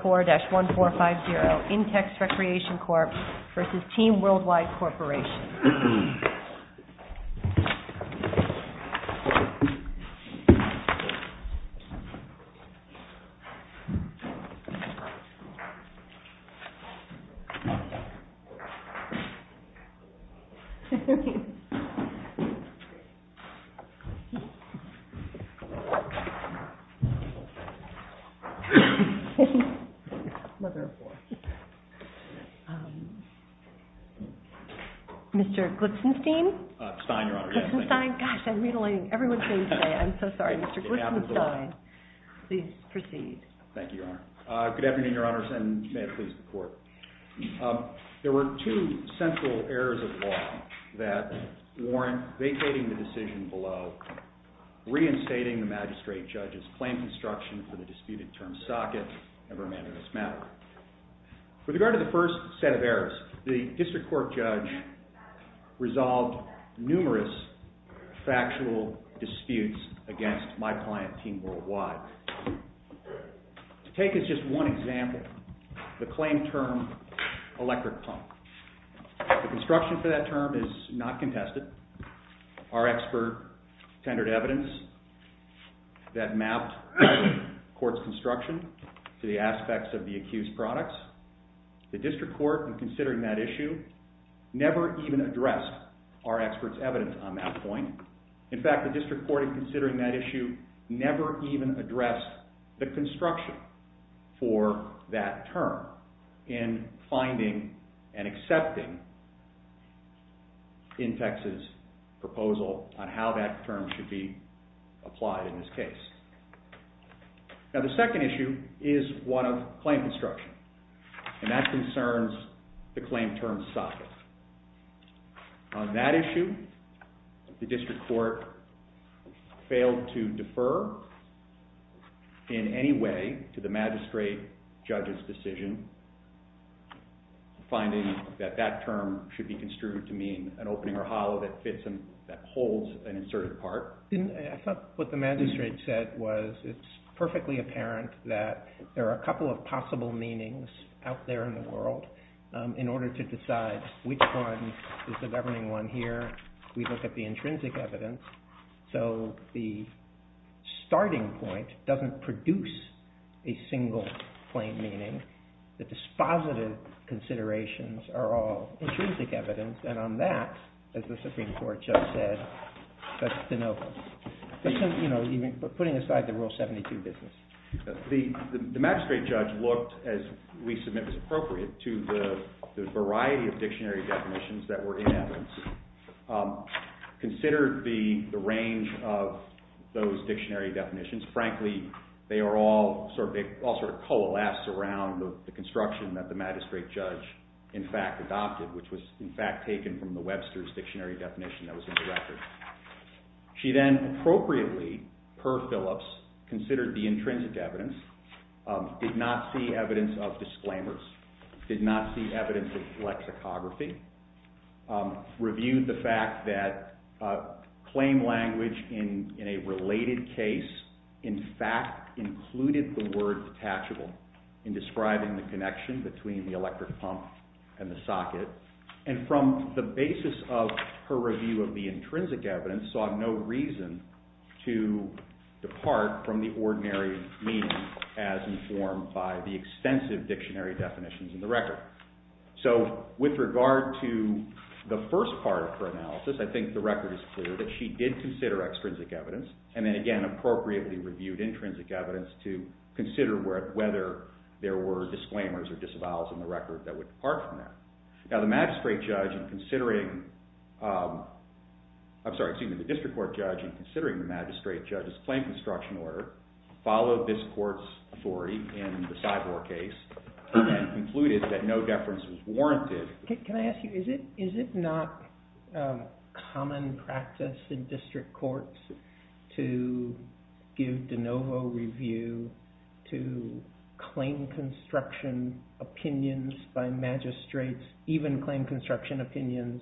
Corporation. I'm going to start with Mr. Glipsenstein. There were two central errors of law that warrant vacating the decision below, reinstating the magistrate judge's claim construction for the disputed term socket and remand of this matter. With regard to the first set of errors, the district court judge resolved numerous factual disputes against my client, Team Worldwide. To take as just one example, the claim term electric pump. The construction for that term is not contested. Our expert tendered evidence that mapped court's construction to the aspects of the accused products. The district court, in considering that issue, never even addressed our expert's evidence on that point. In fact, the district court, in considering that issue, never even addressed the construction for that term in finding and accepting Intex's proposal on how that term should be applied in this case. Now, the second issue is one of claim construction, and that concerns the claim term socket. On that issue, the district court failed to defer in any way to the magistrate judge's decision, finding that that term should be construed to mean an opening or hollow that holds an inserted part. I thought what the magistrate said was it's perfectly apparent that there are a couple of possible meanings out there in the world. In order to decide which one is the governing one here, we look at the intrinsic evidence. So the starting point doesn't produce a single plain meaning. The dispositive considerations are all intrinsic evidence. And on that, as the Supreme Court just said, that's the note. But putting aside the Rule 72 business. The magistrate judge looked, as we submit as appropriate, to the variety of dictionary definitions that were in evidence. Considered the range of those dictionary definitions. Frankly, they all sort of coalesce around the construction that the magistrate judge in fact adopted, which was in fact taken from the Webster's dictionary definition that was in the record. She then appropriately, per Phillips, considered the intrinsic evidence. Did not see evidence of disclaimers. Did not see evidence of lexicography. Reviewed the fact that claim language in a related case in fact included the word detachable in describing the connection between the electric pump and the socket. And from the basis of her review of the intrinsic evidence, saw no reason to depart from the ordinary meaning as informed by the extensive dictionary definitions in the record. So with regard to the first part of her analysis, I think the record is clear that she did consider extrinsic evidence and then again appropriately reviewed intrinsic evidence to consider whether there were disclaimers or disavows in the record that would depart from that. Now the magistrate judge in considering, I'm sorry, excuse me, the district court judge in considering the magistrate judge's claim construction order followed this court's authority in the Cyborg case and concluded that no deference was warranted. Can I ask you, is it not common practice in district courts to give de novo review to claim construction opinions by magistrates, even claim construction opinions,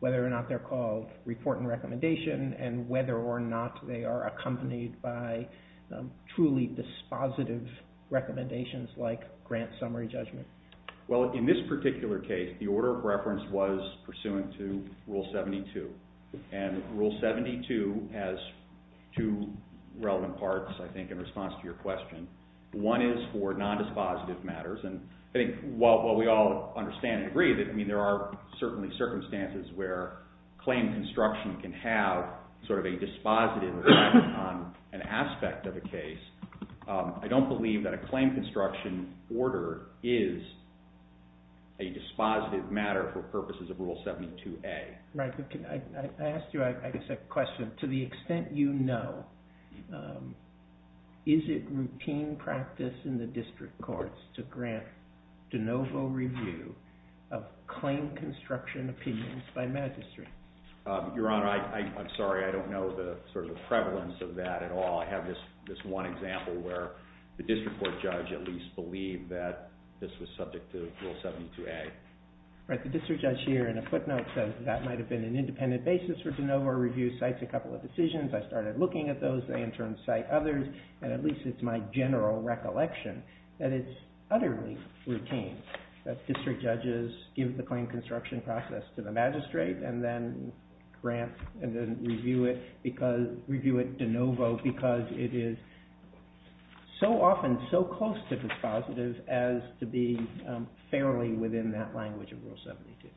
whether or not they're called report and recommendation and whether or not they are accompanied by truly dispositive recommendations like grant summary judgment? Well, in this particular case, the order of reference was pursuant to Rule 72. And Rule 72 has two relevant parts, I think, in response to your question. One is for non-dispositive matters, and I think while we all understand and agree that there are certainly circumstances where claim construction can have sort of a dispositive effect on an aspect of a case, I don't believe that a claim construction order is a dispositive matter for purposes of Rule 72A. Right. I asked you, I guess, a question. To the extent you know, is it routine practice in the district courts to grant de novo review of claim construction opinions by magistrates? Your Honor, I'm sorry, I don't know the sort of prevalence of that at all. I have this one example where the district court judge at least believed that this was subject to Rule 72A. Right. The district judge here in a footnote says that might have been an independent basis for de novo review. Cites a couple of decisions. I started looking at those. They in turn cite others. And at least it's my general recollection that it's utterly routine that district judges give the claim construction process to the magistrate and then grant and then review it de novo because it is so often so close to dispositive as to be fairly within that language of Rule 72.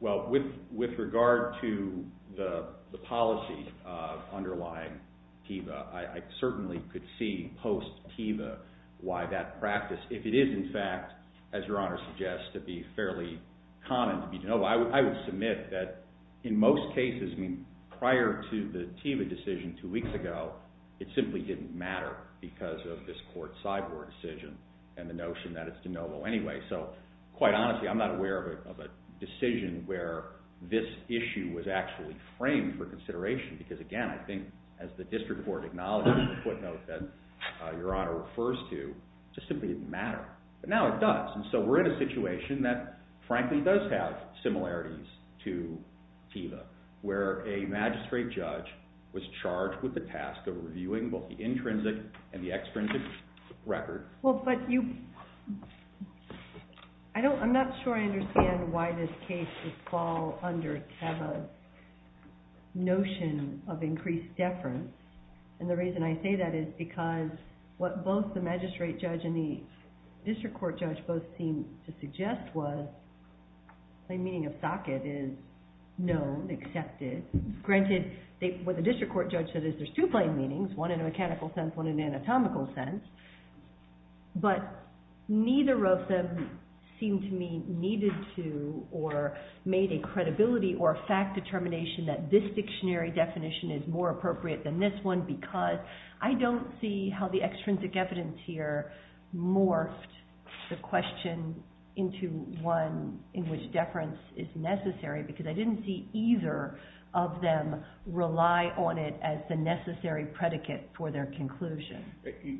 Well, with regard to the policy underlying TEVA, I certainly could see post-TEVA why that practice, if it is in fact, as Your Honor suggests, to be fairly common to be de novo, I would submit that in most cases, I mean, prior to the TEVA decision two weeks ago, it simply didn't matter because of this court sideboard decision and the notion that it's de novo. Quite honestly, I'm not aware of a decision where this issue was actually framed for consideration because, again, I think as the district court acknowledged in the footnote that Your Honor refers to, it just simply didn't matter. But now it does. And so we're in a situation that frankly does have similarities to TEVA where a magistrate judge was charged with the task of reviewing both the intrinsic and the extrinsic record. Well, but I'm not sure I understand why this case would fall under TEVA's notion of increased deference. And the reason I say that is because what both the magistrate judge and the district court judge both seem to suggest was plain meaning of socket is known, accepted. Granted, what the district court judge said is there's two plain meanings, one in a mechanical sense, one in an anatomical sense. But neither of them seem to me needed to or made a credibility or fact determination that this dictionary definition is more appropriate than this one because I don't see how the extrinsic evidence here morphed the question into one in which deference is necessary because I didn't see either of them rely on it as the necessary predicate for their conclusion.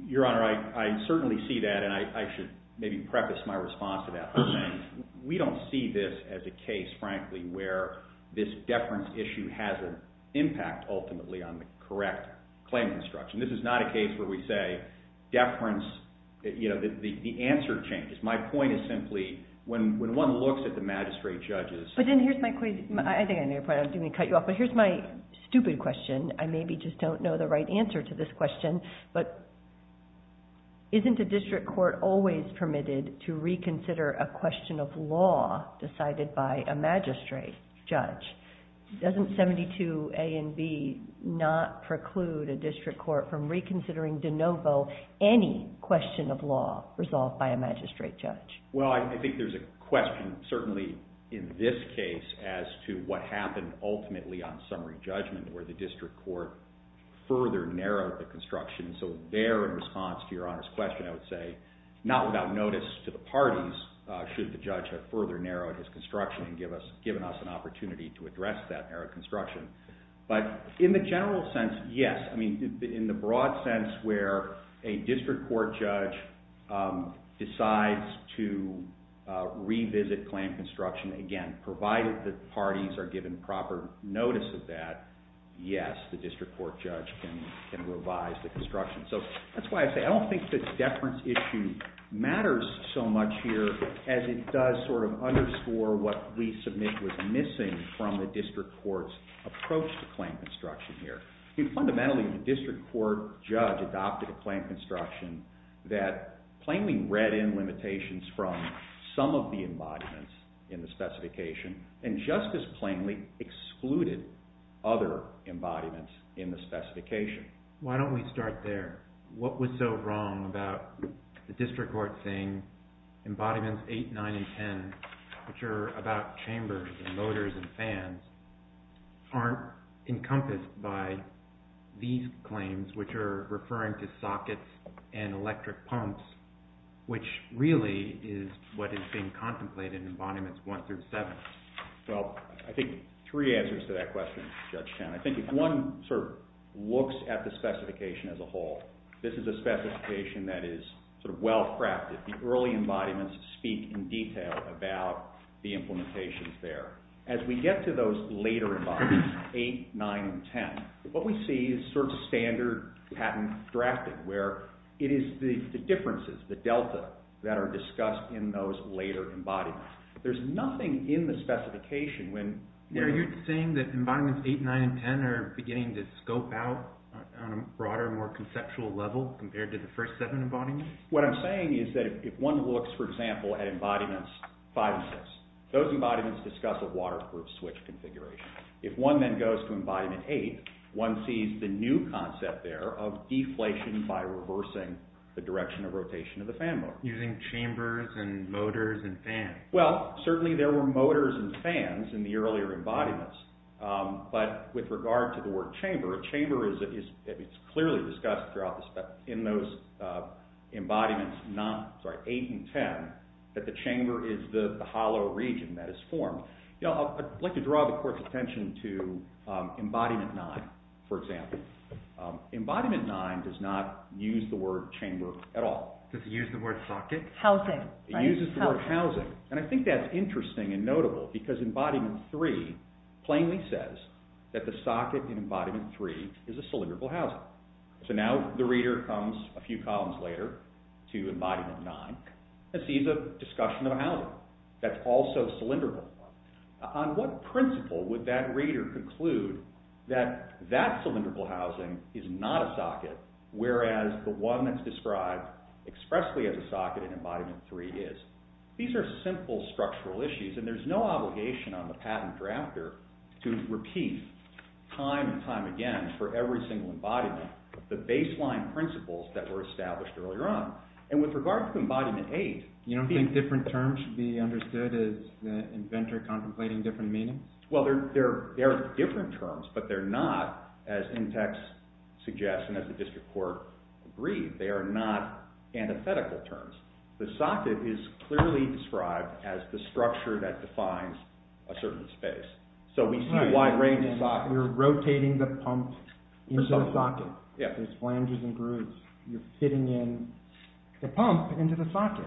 Your Honor, I certainly see that and I should maybe preface my response to that by saying we don't see this as a case, frankly, where this deference issue has an impact ultimately on the correct claim construction. This is not a case where we say deference, you know, the answer changes. My point is simply when one looks at the magistrate judges But then here's my stupid question. I maybe just don't know the right answer to this question, but isn't a district court always permitted to reconsider a question of law decided by a magistrate judge? Doesn't 72 A and B not preclude a district court from reconsidering de novo any question of law resolved by a magistrate judge? Well, I think there's a question certainly in this case as to what happened ultimately on summary judgment where the district court further narrowed the construction. So there in response to Your Honor's question, I would say not without notice to the parties should the judge have further narrowed his construction and given us an opportunity to address that narrow construction. But in the general sense, yes. I mean, in the broad sense where a district court judge decides to revisit claim construction, again, provided that parties are given proper notice of that, yes, the district court judge can revise the construction. So that's why I say I don't think this deference issue matters so much here as it does sort of underscore what we submit was missing from the district court's approach to claim construction here. Fundamentally, the district court judge adopted a claim construction that plainly read in limitations from some of the embodiments in the specification and just as plainly excluded other embodiments in the specification. Why don't we start there? What was so wrong about the district court saying embodiments 8, 9, and 10, which are about chambers and motors and fans, aren't encompassed by these claims, which are referring to sockets and electric pumps, which really is what is being contemplated in embodiments 1 through 7? Well, I think three answers to that question, Judge Chen. I think if one sort of looks at the specification as a whole, this is a specification that is sort of well crafted. The early embodiments speak in detail about the implementations there. As we get to those later embodiments, 8, 9, and 10, what we see is sort of standard patent drafting where it is the differences, the delta, that are discussed in those later embodiments. There's nothing in the specification when... You're saying that embodiments 8, 9, and 10 are beginning to scope out on a broader, more conceptual level compared to the first seven embodiments? What I'm saying is that if one looks, for example, at embodiments 5 and 6, those embodiments discuss a waterproof switch configuration. If one then goes to embodiment 8, one sees the new concept there of deflation by reversing the direction of rotation of the fan motor. Using chambers and motors and fans? Well, certainly there were motors and fans in the earlier embodiments, but with regard to the word chamber, a chamber is clearly discussed in those embodiments 8 and 10, that the chamber is the hollow region that is formed. I'd like to draw the court's attention to embodiment 9, for example. Embodiment 9 does not use the word chamber at all. Does it use the word socket? Housing, right? It uses the word housing, and I think that's interesting and notable because embodiment 3 plainly says that the socket in embodiment 3 is a cylindrical housing. So now the reader comes a few columns later to embodiment 9 and sees a discussion of a housing that's also cylindrical. On what principle would that reader conclude that that cylindrical housing is not a socket, whereas the one that's described expressly as a socket in embodiment 3 is? These are simple structural issues, and there's no obligation on the patent drafter to repeat time and time again for every single embodiment the baseline principles that were established earlier on. And with regard to embodiment 8- You don't think different terms should be understood as the inventor contemplating different meanings? Well, there are different terms, but they're not, as Intex suggests and as the district court agreed, they are not antithetical terms. The socket is clearly described as the structure that defines a certain space. So we see a wide range of- You're rotating the pump into the socket. There's flanges and grooves. You're fitting in the pump into the socket.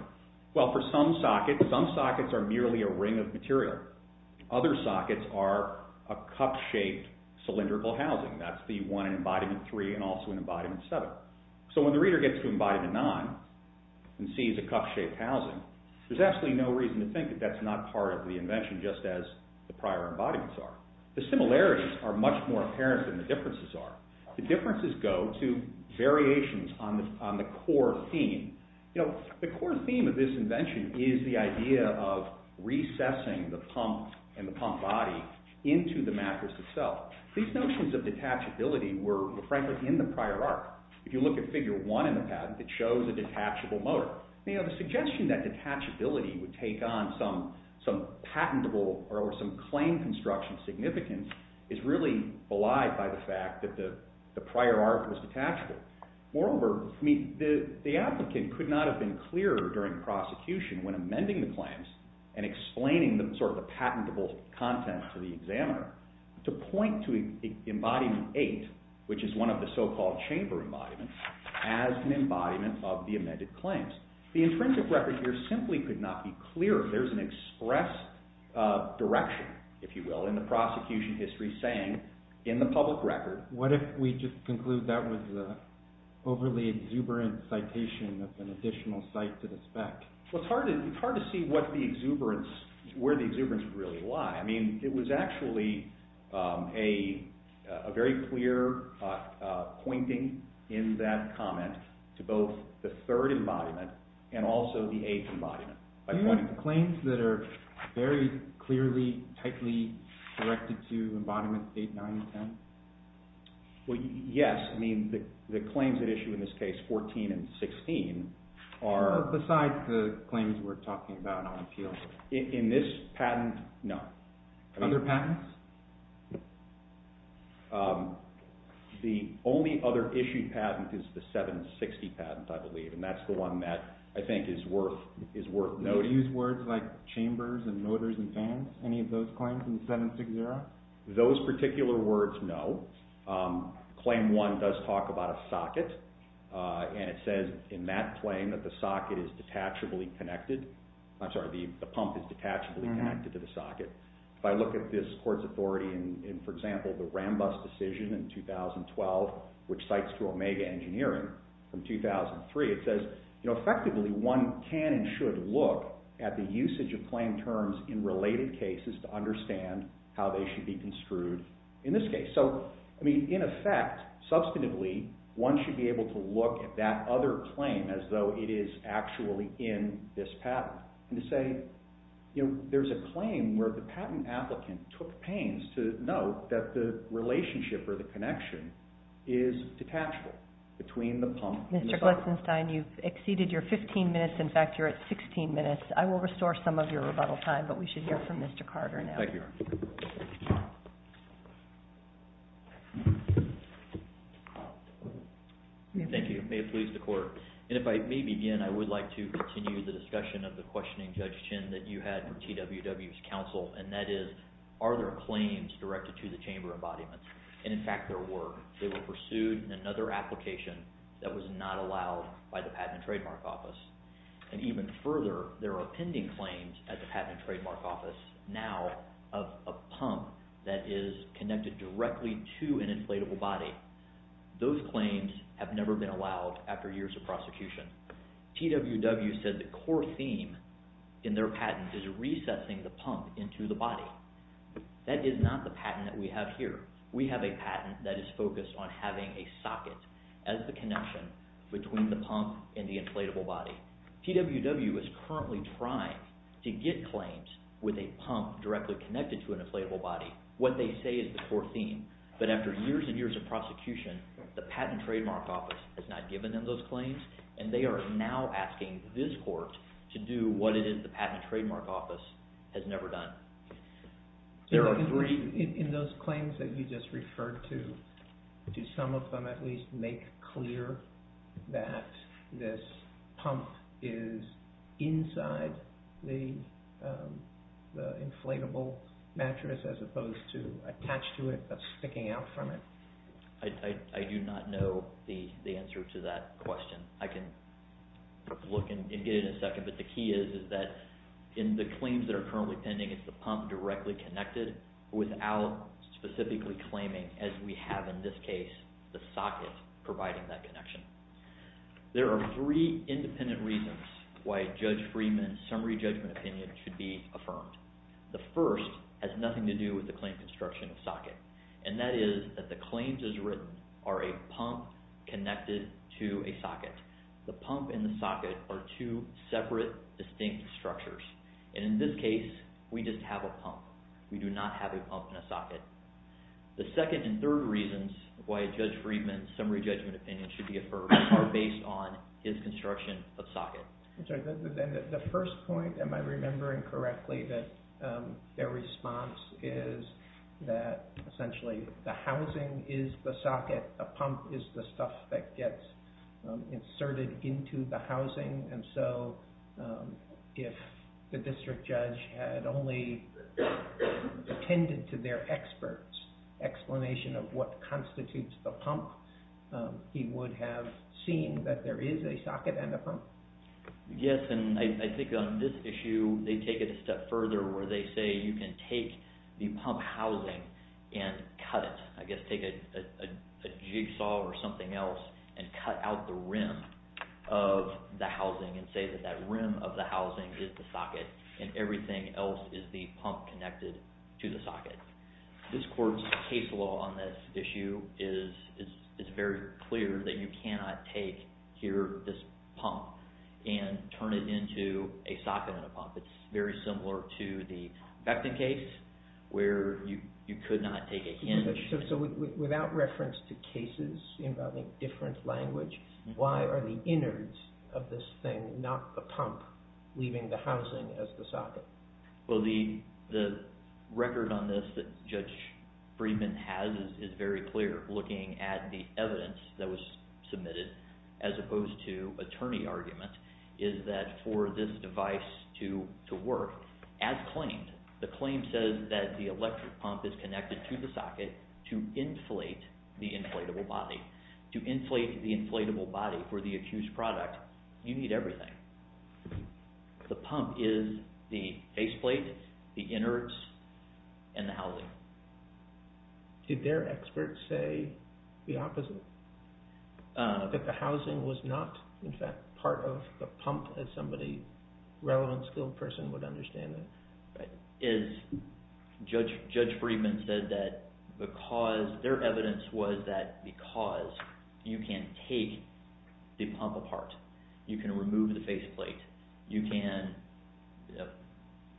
Well, for some sockets, some sockets are merely a ring of material. Other sockets are a cup-shaped cylindrical housing. That's the one in embodiment 3 and also in embodiment 7. So when the reader gets to embodiment 9 and sees a cup-shaped housing, there's absolutely no reason to think that that's not part of the invention just as the prior embodiments are. The similarities are much more apparent than the differences are. The differences go to variations on the core theme. You know, the core theme of this invention is the idea of recessing the pump and the pump body into the mattress itself. These notions of detachability were, frankly, in the prior arc. If you look at figure 1 in the patent, it shows a detachable motor. The suggestion that detachability would take on some patentable or some claim construction significance is really belied by the fact that the prior arc was detachable. Moreover, the applicant could not have been clearer during prosecution when amending the to point to embodiment 8, which is one of the so-called chamber embodiments, as an embodiment of the amended claims. The intrinsic record here simply could not be clearer. There's an express direction, if you will, in the prosecution history saying in the public record. What if we just conclude that was an overly exuberant citation of an additional site to the spec? Well, it's hard to see where the exuberance really lies. I mean, it was actually a very clear pointing in that comment to both the third embodiment and also the eighth embodiment. Do you have claims that are very clearly, tightly directed to embodiment 8, 9, and 10? Well, yes. I mean, the claims at issue in this case, 14 and 16, are... Besides the claims we're talking about on appeal. In this patent, no. Other patents? The only other issued patent is the 760 patent, I believe, and that's the one that I think is worth noting. Do you use words like chambers and motors and fans, any of those claims in 760? Those particular words, no. Claim 1 does talk about a socket, and it says in that claim that the socket is detachably connected. I'm sorry, the pump is detachably connected to the socket. If I look at this court's authority in, for example, the Rambus decision in 2012, which cites to Omega Engineering from 2003, it says, effectively, one can and should look at the usage of claim terms in related cases to understand how they should be construed in this case. So, I mean, in effect, substantively, one should be able to look at that other claim as though it is actually in this patent. And to say, you know, there's a claim where the patent applicant took pains to note that the relationship or the connection is detachable between the pump and the socket. Mr. Gleisenstein, you've exceeded your 15 minutes. In fact, you're at 16 minutes. I will restore some of your rebuttal time, but we should hear from Mr. Carter now. Thank you. Thank you. You may have pleased the court. And if I may begin, I would like to continue the discussion of the questioning, Judge Chinn, that you had for TWW's counsel, and that is, are there claims directed to the chamber embodiment? And, in fact, there were. They were pursued in another application that was not allowed by the Patent and Trademark Office. And even further, there are pending claims at the Patent and Trademark Office now of a pump that is connected directly to an inflatable body. Those claims have never been allowed after years of prosecution. TWW said the core theme in their patent is resetting the pump into the body. That is not the patent that we have here. We have a patent that is focused on having a socket as the connection between the pump and the inflatable body. TWW is currently trying to get claims with a pump directly connected to an inflatable body. What they say is the core theme. But after years and years of prosecution, the Patent and Trademark Office has not given them those claims, and they are now asking this court to do what it is the Patent and Trademark Office has never done. There are three. In those claims that you just referred to, do some of them at least make clear that this I do not know the answer to that question. I can look and get it in a second, but the key is that in the claims that are currently pending, it's the pump directly connected without specifically claiming, as we have in this case, the socket providing that connection. There are three independent reasons why Judge Freeman's summary judgment opinion should be affirmed. The first has nothing to do with the claim construction of socket, and that is that the claims as written are a pump connected to a socket. The pump and the socket are two separate, distinct structures. In this case, we just have a pump. We do not have a pump and a socket. The second and third reasons why Judge Freeman's summary judgment opinion should be affirmed are based on his construction of socket. The first point, am I remembering correctly, that their response is that essentially the housing is the socket. A pump is the stuff that gets inserted into the housing, and so if the district judge had only attended to their experts' explanation of what constitutes the pump, he would have seen that there is a socket and a pump? Yes, and I think on this issue, they take it a step further where they say you can take the pump housing and cut it. I guess take a jigsaw or something else and cut out the rim of the housing and say that that rim of the housing is the socket, and everything else is the pump connected to the socket. This court's case law on this issue is very clear that you cannot take here this pump and turn it into a socket and a pump. It's very similar to the Becton case where you could not take a hinge. So without reference to cases involving different language, why are the innards of this thing The record on this that Judge Friedman has is very clear, looking at the evidence that was submitted, as opposed to attorney argument, is that for this device to work, as claimed, the claim says that the electric pump is connected to the socket to inflate the inflatable body. To inflate the inflatable body for the accused product, you need everything. The pump is the faceplate, the innards, and the housing. Did their experts say the opposite? That the housing was not, in fact, part of the pump as a relevant skilled person would understand it? Judge Friedman said that their evidence was that because you can take the pump apart, you can remove the faceplate, you can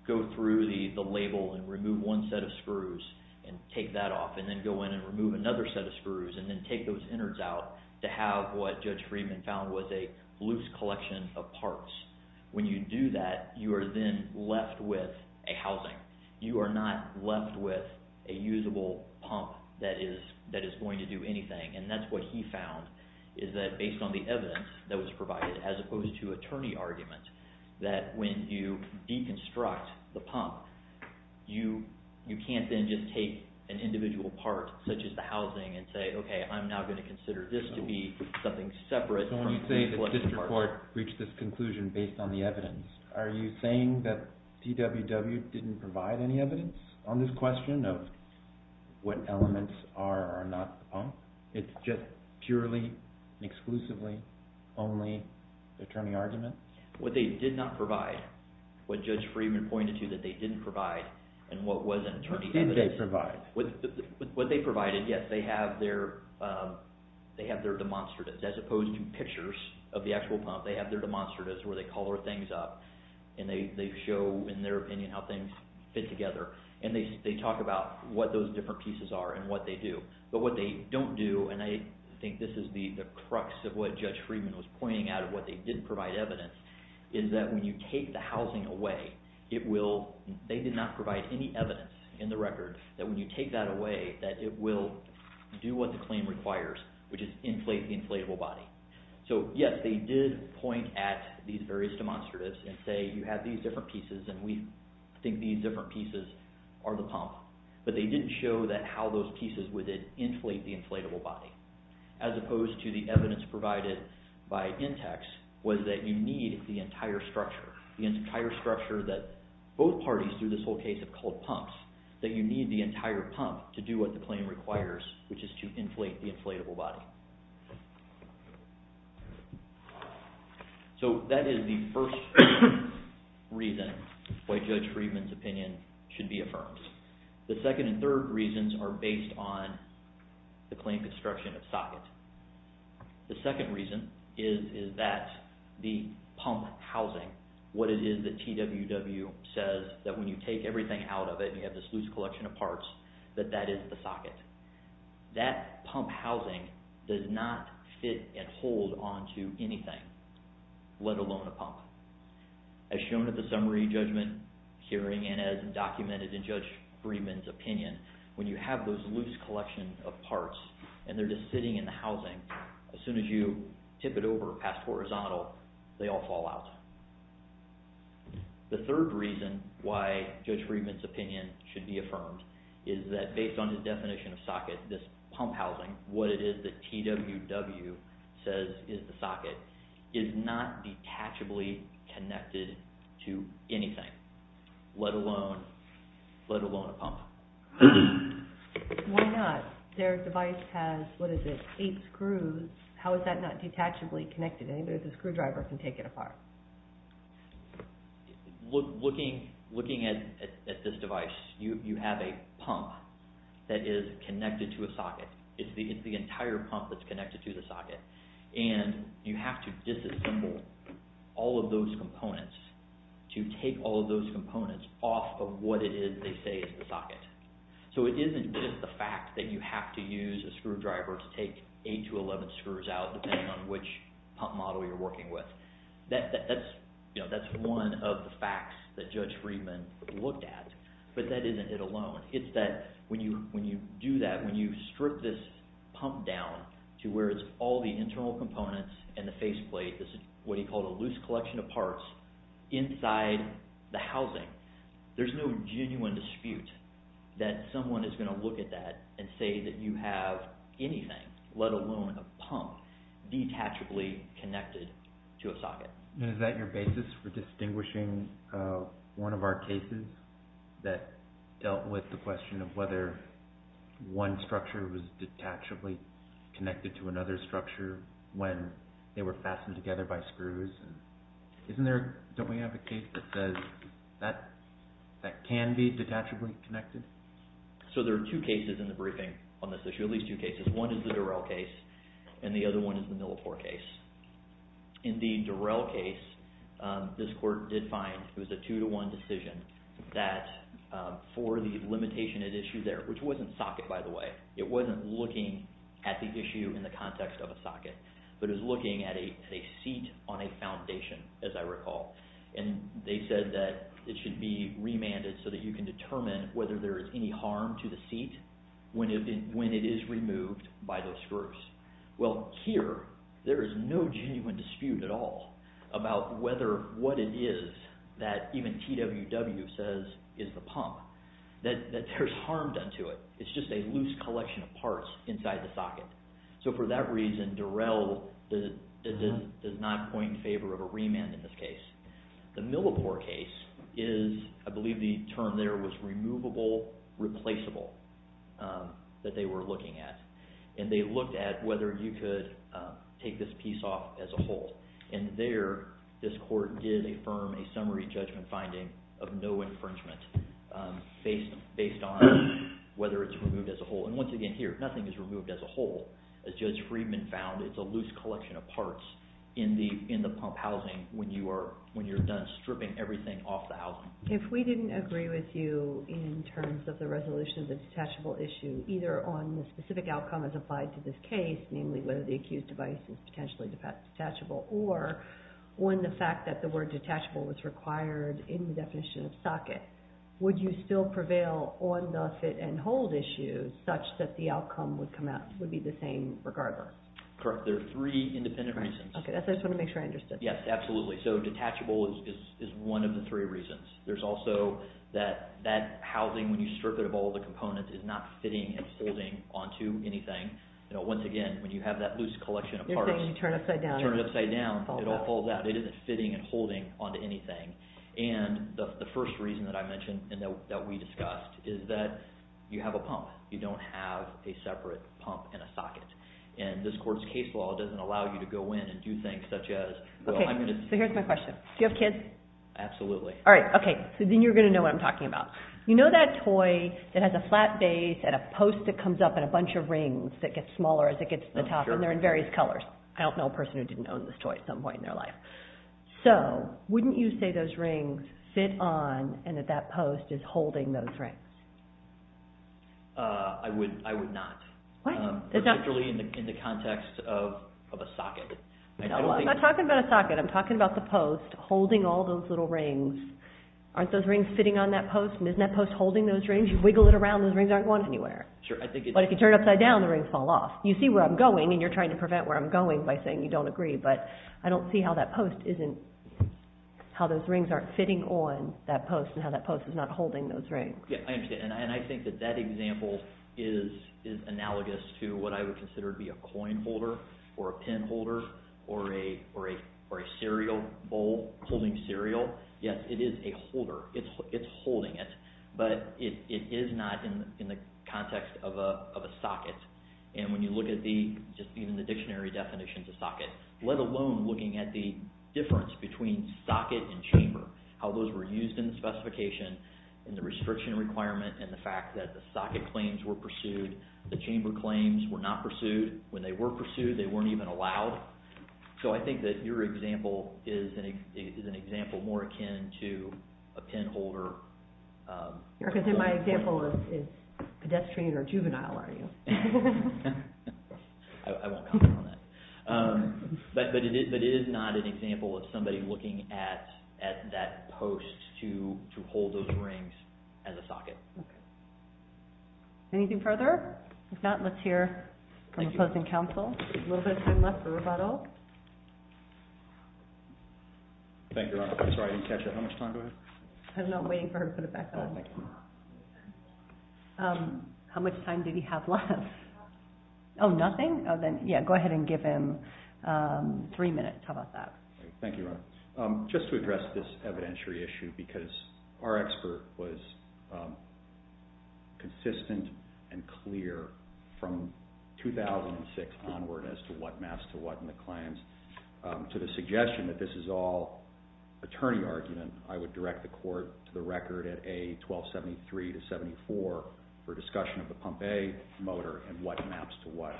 go through the label and remove one set of screws and take that off and then go in and remove another set of screws and then take those innards out to have what Judge Friedman found was a loose collection of parts. When you do that, you are then left with a housing. You are not left with a usable pump that is going to do anything. And that's what he found, is that based on the evidence that was provided, as opposed to attorney argument, that when you deconstruct the pump, you can't then just take an individual part, such as the housing, and say, okay, I'm now going to consider this to be something separate from the inflatable part. So when you say the district court reached this conclusion based on the evidence, are you saying that DWW didn't provide any evidence on this question of what elements are or are they just purely and exclusively only attorney argument? What they did not provide, what Judge Friedman pointed to that they didn't provide, and what was in attorney evidence. What did they provide? What they provided, yes, they have their demonstratives as opposed to pictures of the actual pump. They have their demonstratives where they color things up and they show in their opinion how things fit together. And they talk about what those different pieces are and what they do. But what they don't do, and I think this is the crux of what Judge Friedman was pointing out of what they didn't provide evidence, is that when you take the housing away, they did not provide any evidence in the record that when you take that away, that it will do what the claim requires, which is inflate the inflatable body. So yes, they did point at these various demonstratives and say, you have these different pieces and we think these different pieces are the pump. But they didn't show how those pieces would inflate the inflatable body. As opposed to the evidence provided by Intex was that you need the entire structure, the entire structure that both parties through this whole case have called pumps, that you need the entire pump to do what the claim requires, which is to inflate the inflatable body. So that is the first reason why Judge Friedman's opinion should be affirmed. The second and third reasons are based on the claim construction of socket. The second reason is that the pump housing, what it is that TWW says that when you take everything out of it and you have this loose collection of parts, that that is the socket. That pump housing does not fit and hold onto anything, let alone a pump. As shown at the summary judgment hearing and as documented in Judge Friedman's opinion, when you have those loose collections of parts and they're just sitting in the housing, as soon as you tip it over past horizontal, they all fall out. The third reason why Judge Friedman's opinion should be affirmed is that based on the definition of socket, this pump housing, what it is that TWW says is the socket, is not detachably connected to anything, let alone a pump. Why not? Their device has, what is it, eight screws. How is that not detachably connected? Neither the screwdriver can take it apart. Looking at this device, you have a pump that is connected to a socket. It's the entire pump that's connected to the socket. You have to disassemble all of those components to take all of those components off of what it is they say is the socket. It isn't just the fact that you have to use a screwdriver to take eight to 11 screws out depending on which pump model you're working with. That's one of the facts that Judge Friedman looked at, but that isn't it alone. It's that when you do that, when you strip this pump down to where it's all the internal components and the faceplate, what he called a loose collection of parts, inside the housing, there's no genuine dispute that someone is going to look at that and say that you have anything, let alone a pump, detachably connected to a socket. Is that your basis for distinguishing one of our cases that dealt with the question of whether one structure was detachably connected to another structure when they were fastened together by screws? Don't we have a case that says that can be detachably connected? There are two cases in the briefing on this issue, at least two cases. One is the Durrell case and the other one is the Millipore case. In the Durrell case, this court did find it was a two to one decision that for the limitation at issue there, which wasn't socket by the way, it wasn't looking at the issue in the context of a socket, but it was looking at a seat on a foundation as I recall. They said that it should be remanded so that you can determine whether there is any harm to the seat when it is removed by those screws. Well, here there is no genuine dispute at all about what it is that even TWW says is the pump, that there's harm done to it. It's just a loose collection of parts inside the socket. For that reason, Durrell does not point in favor of a remand in this case. The Millipore case is, I believe the term there was removable, replaceable that they were looking at. They looked at whether you could take this piece off as a whole. There, this court did affirm a summary judgment finding of no infringement based on whether it's removed as a whole. Once again here, nothing is removed as a whole. As Judge Friedman found, it's a loose collection of parts in the pump housing when you are done stripping everything off the housing. If we didn't agree with you in terms of the resolution of the detachable issue, either on the specific outcome as applied to this case, namely whether the accused device is potentially detachable or when the fact that the word detachable was required in the definition of socket, would you still prevail on the fit and hold issue such that the outcome would come out, would be the same regardless? Correct. There are three independent reasons. Okay. I just want to make sure I understood. Yes, absolutely. Detachable is one of the three reasons. There's also that housing when you strip it of all the components is not fitting and holding onto anything. Once again, when you have that loose collection of parts- You're saying you turn it upside down. Turn it upside down, it all falls out. It isn't fitting and holding onto anything. The first reason that I mentioned and that we discussed is that you have a pump. You don't have a separate pump and a socket. This court's case law doesn't allow you to go in and do things such as- Okay. Here's my question. Do you have kids? Absolutely. All right. Okay. Then you're going to know what I'm talking about. You know that toy that has a flat base and a post that comes up and a bunch of rings that gets smaller as it gets to the top and they're in various colors. I don't know a person who didn't own this toy at some point in their life. Wouldn't you say those rings fit on and that that post is holding those rings? I would not. What? Particularly in the context of a socket. I'm not talking about a socket. I'm talking about the post holding all those little rings. Aren't those rings fitting on that post? Isn't that post holding those rings? You wiggle it around, those rings aren't going anywhere. But if you turn it upside down, the rings fall off. You see where I'm going and you're trying to prevent where I'm going by saying you don't agree. But I don't see how that post isn't, how those rings aren't fitting on that post and how that post is not holding those rings. Yeah, I understand. And I think that that example is analogous to what I would consider to be a coin holder or a pin holder or a cereal bowl holding cereal. Yes, it is a holder. It's holding it. But it is not in the context of a socket. And when you look at the, just even the dictionary definitions of socket, let alone looking at the difference between socket and chamber, how those were used in the specification and the restriction requirement and the fact that the socket claims were pursued, the chamber claims were not pursued. When they were pursued, they weren't even allowed. So I think that your example is an example more akin to a pin holder. You're going to say my example is pedestrian or juvenile, are you? I won't comment on that. But it is not an example of somebody looking at that post to hold those rings as a socket. Okay. Anything further? If not, let's hear from opposing counsel. A little bit of time left for rebuttal. Thank you, Your Honor. I'm sorry, I didn't catch that. How much time do I have? I don't know. I'm waiting for her to put it back on. How much time did he have left? Oh, nothing? Oh, then, yeah, go ahead and give him three minutes. How about that? Thank you, Your Honor. Just to address this evidentiary issue because our expert was consistent and clear from 2006 onward as to what maps to what in the claims to the suggestion that this is all attorney argument, I would direct the court to the record at A1273 to 74 for discussion of the pump A motor and what maps to what.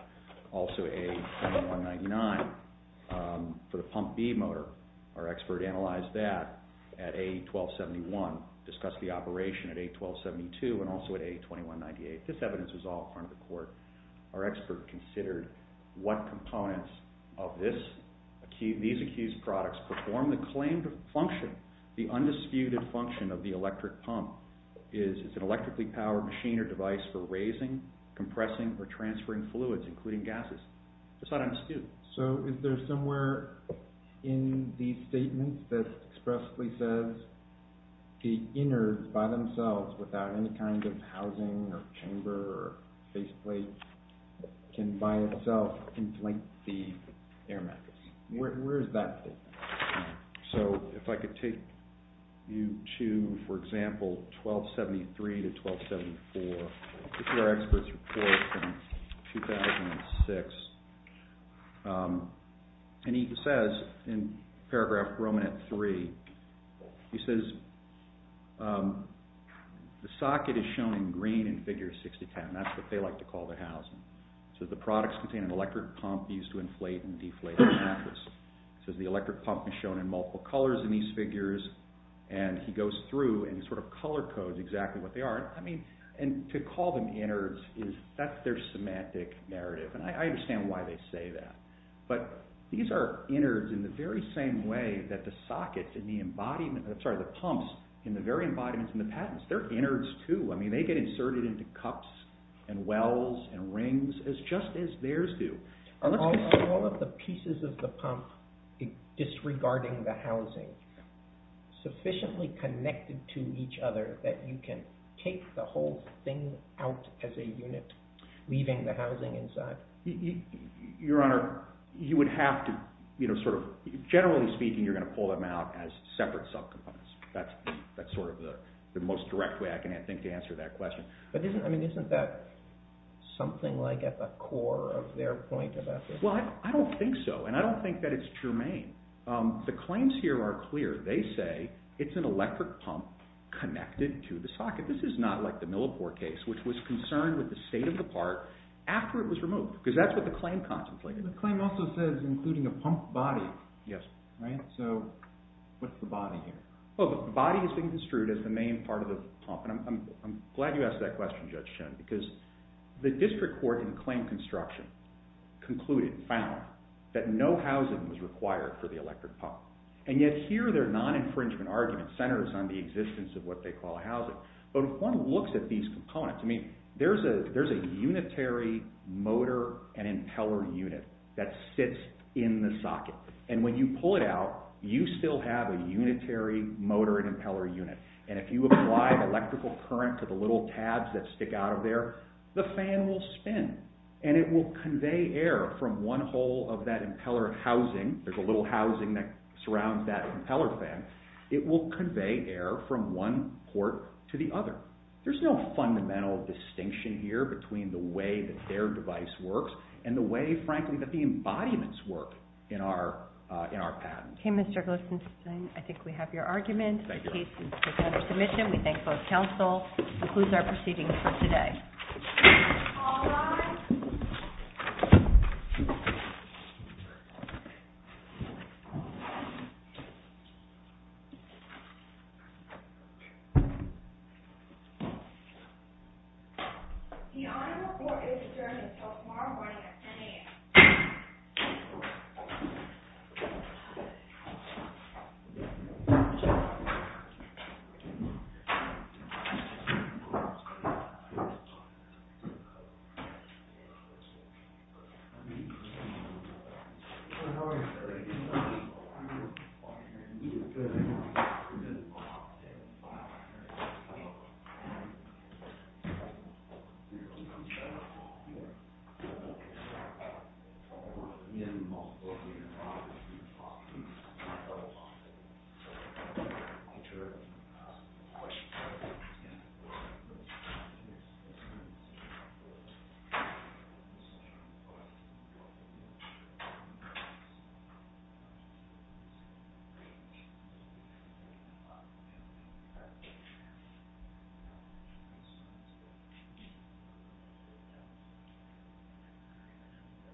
Also A2199 for the pump B motor. Our expert analyzed that at A1271, discussed the operation at A1272 and also at A2198. This evidence was all in front of the court. Our expert considered what components of these accused products perform the claimed function, the undisputed function of the electric pump. Is it an electrically powered machine or device for raising, compressing, or transferring fluids, including gases? Just thought I'd ask you. So is there somewhere in these statements that expressly says the innards by themselves without any kind of housing or chamber or base plate can by itself inflate the air mattress? Where is that statement? So if I could take you to, for example, A1273 to A1274. This is our expert's report from 2006. He says in paragraph Roman at three, he says, the socket is shown in green in figure 6010. That's what they like to call the housing. It says the products contain an electric pump used to inflate and deflate the mattress. It says the electric pump is shown in multiple colors in these figures and he goes through and sort of color codes exactly what they are. I mean, and to call them innards is, that's their semantic narrative. And I understand why they say that. But these are innards in the very same way that the socket in the embodiment, I'm sorry, the pumps in the very embodiments in the patents, they're innards too. I mean, they get inserted into cups and wells and rings just as theirs do. Are all of the pieces of the pump disregarding the housing sufficiently connected to each other that you can take the whole thing out as a unit, leaving the housing inside? Your Honor, you would have to sort of, generally speaking, you're going to pull them out as separate subcomponents. That's sort of the most direct way I can think to answer that question. But isn't that something like at the core of their point about this? Well, I don't think so, and I don't think that it's germane. The claims here are clear. They say it's an electric pump connected to the socket. This is not like the Millipore case, which was concerned with the state of the part after it was removed because that's what the claim contemplated. The claim also says including a pump body. Yes. So what's the body here? Well, the body is being construed as the main part of the pump, and I'm glad you asked that question, Judge Schoen, because the district court in the claim construction concluded, found, that no housing was required for the electric pump. And yet here their non-infringement argument centers on the existence of what they call housing. But if one looks at these components, I mean, there's a unitary motor and impeller unit that sits in the socket. And when you pull it out, you still have a unitary motor and impeller unit. And if you apply electrical current to the little tabs that stick out of there, the fan will spin, and it will convey air from one hole of that impeller housing. There's a little housing that surrounds that impeller fan. It will convey air from one port to the other. There's no fundamental distinction here between the way that their device works and the way, frankly, that the embodiments work in our patents. Okay, Mr. Glickstein, I think we have your argument. The case is taken under submission. We thank both counsel. This concludes our proceedings for today. All rise. The Honorable Court is adjourned until tomorrow morning at 10 a.m. The Court is adjourned. Thank you.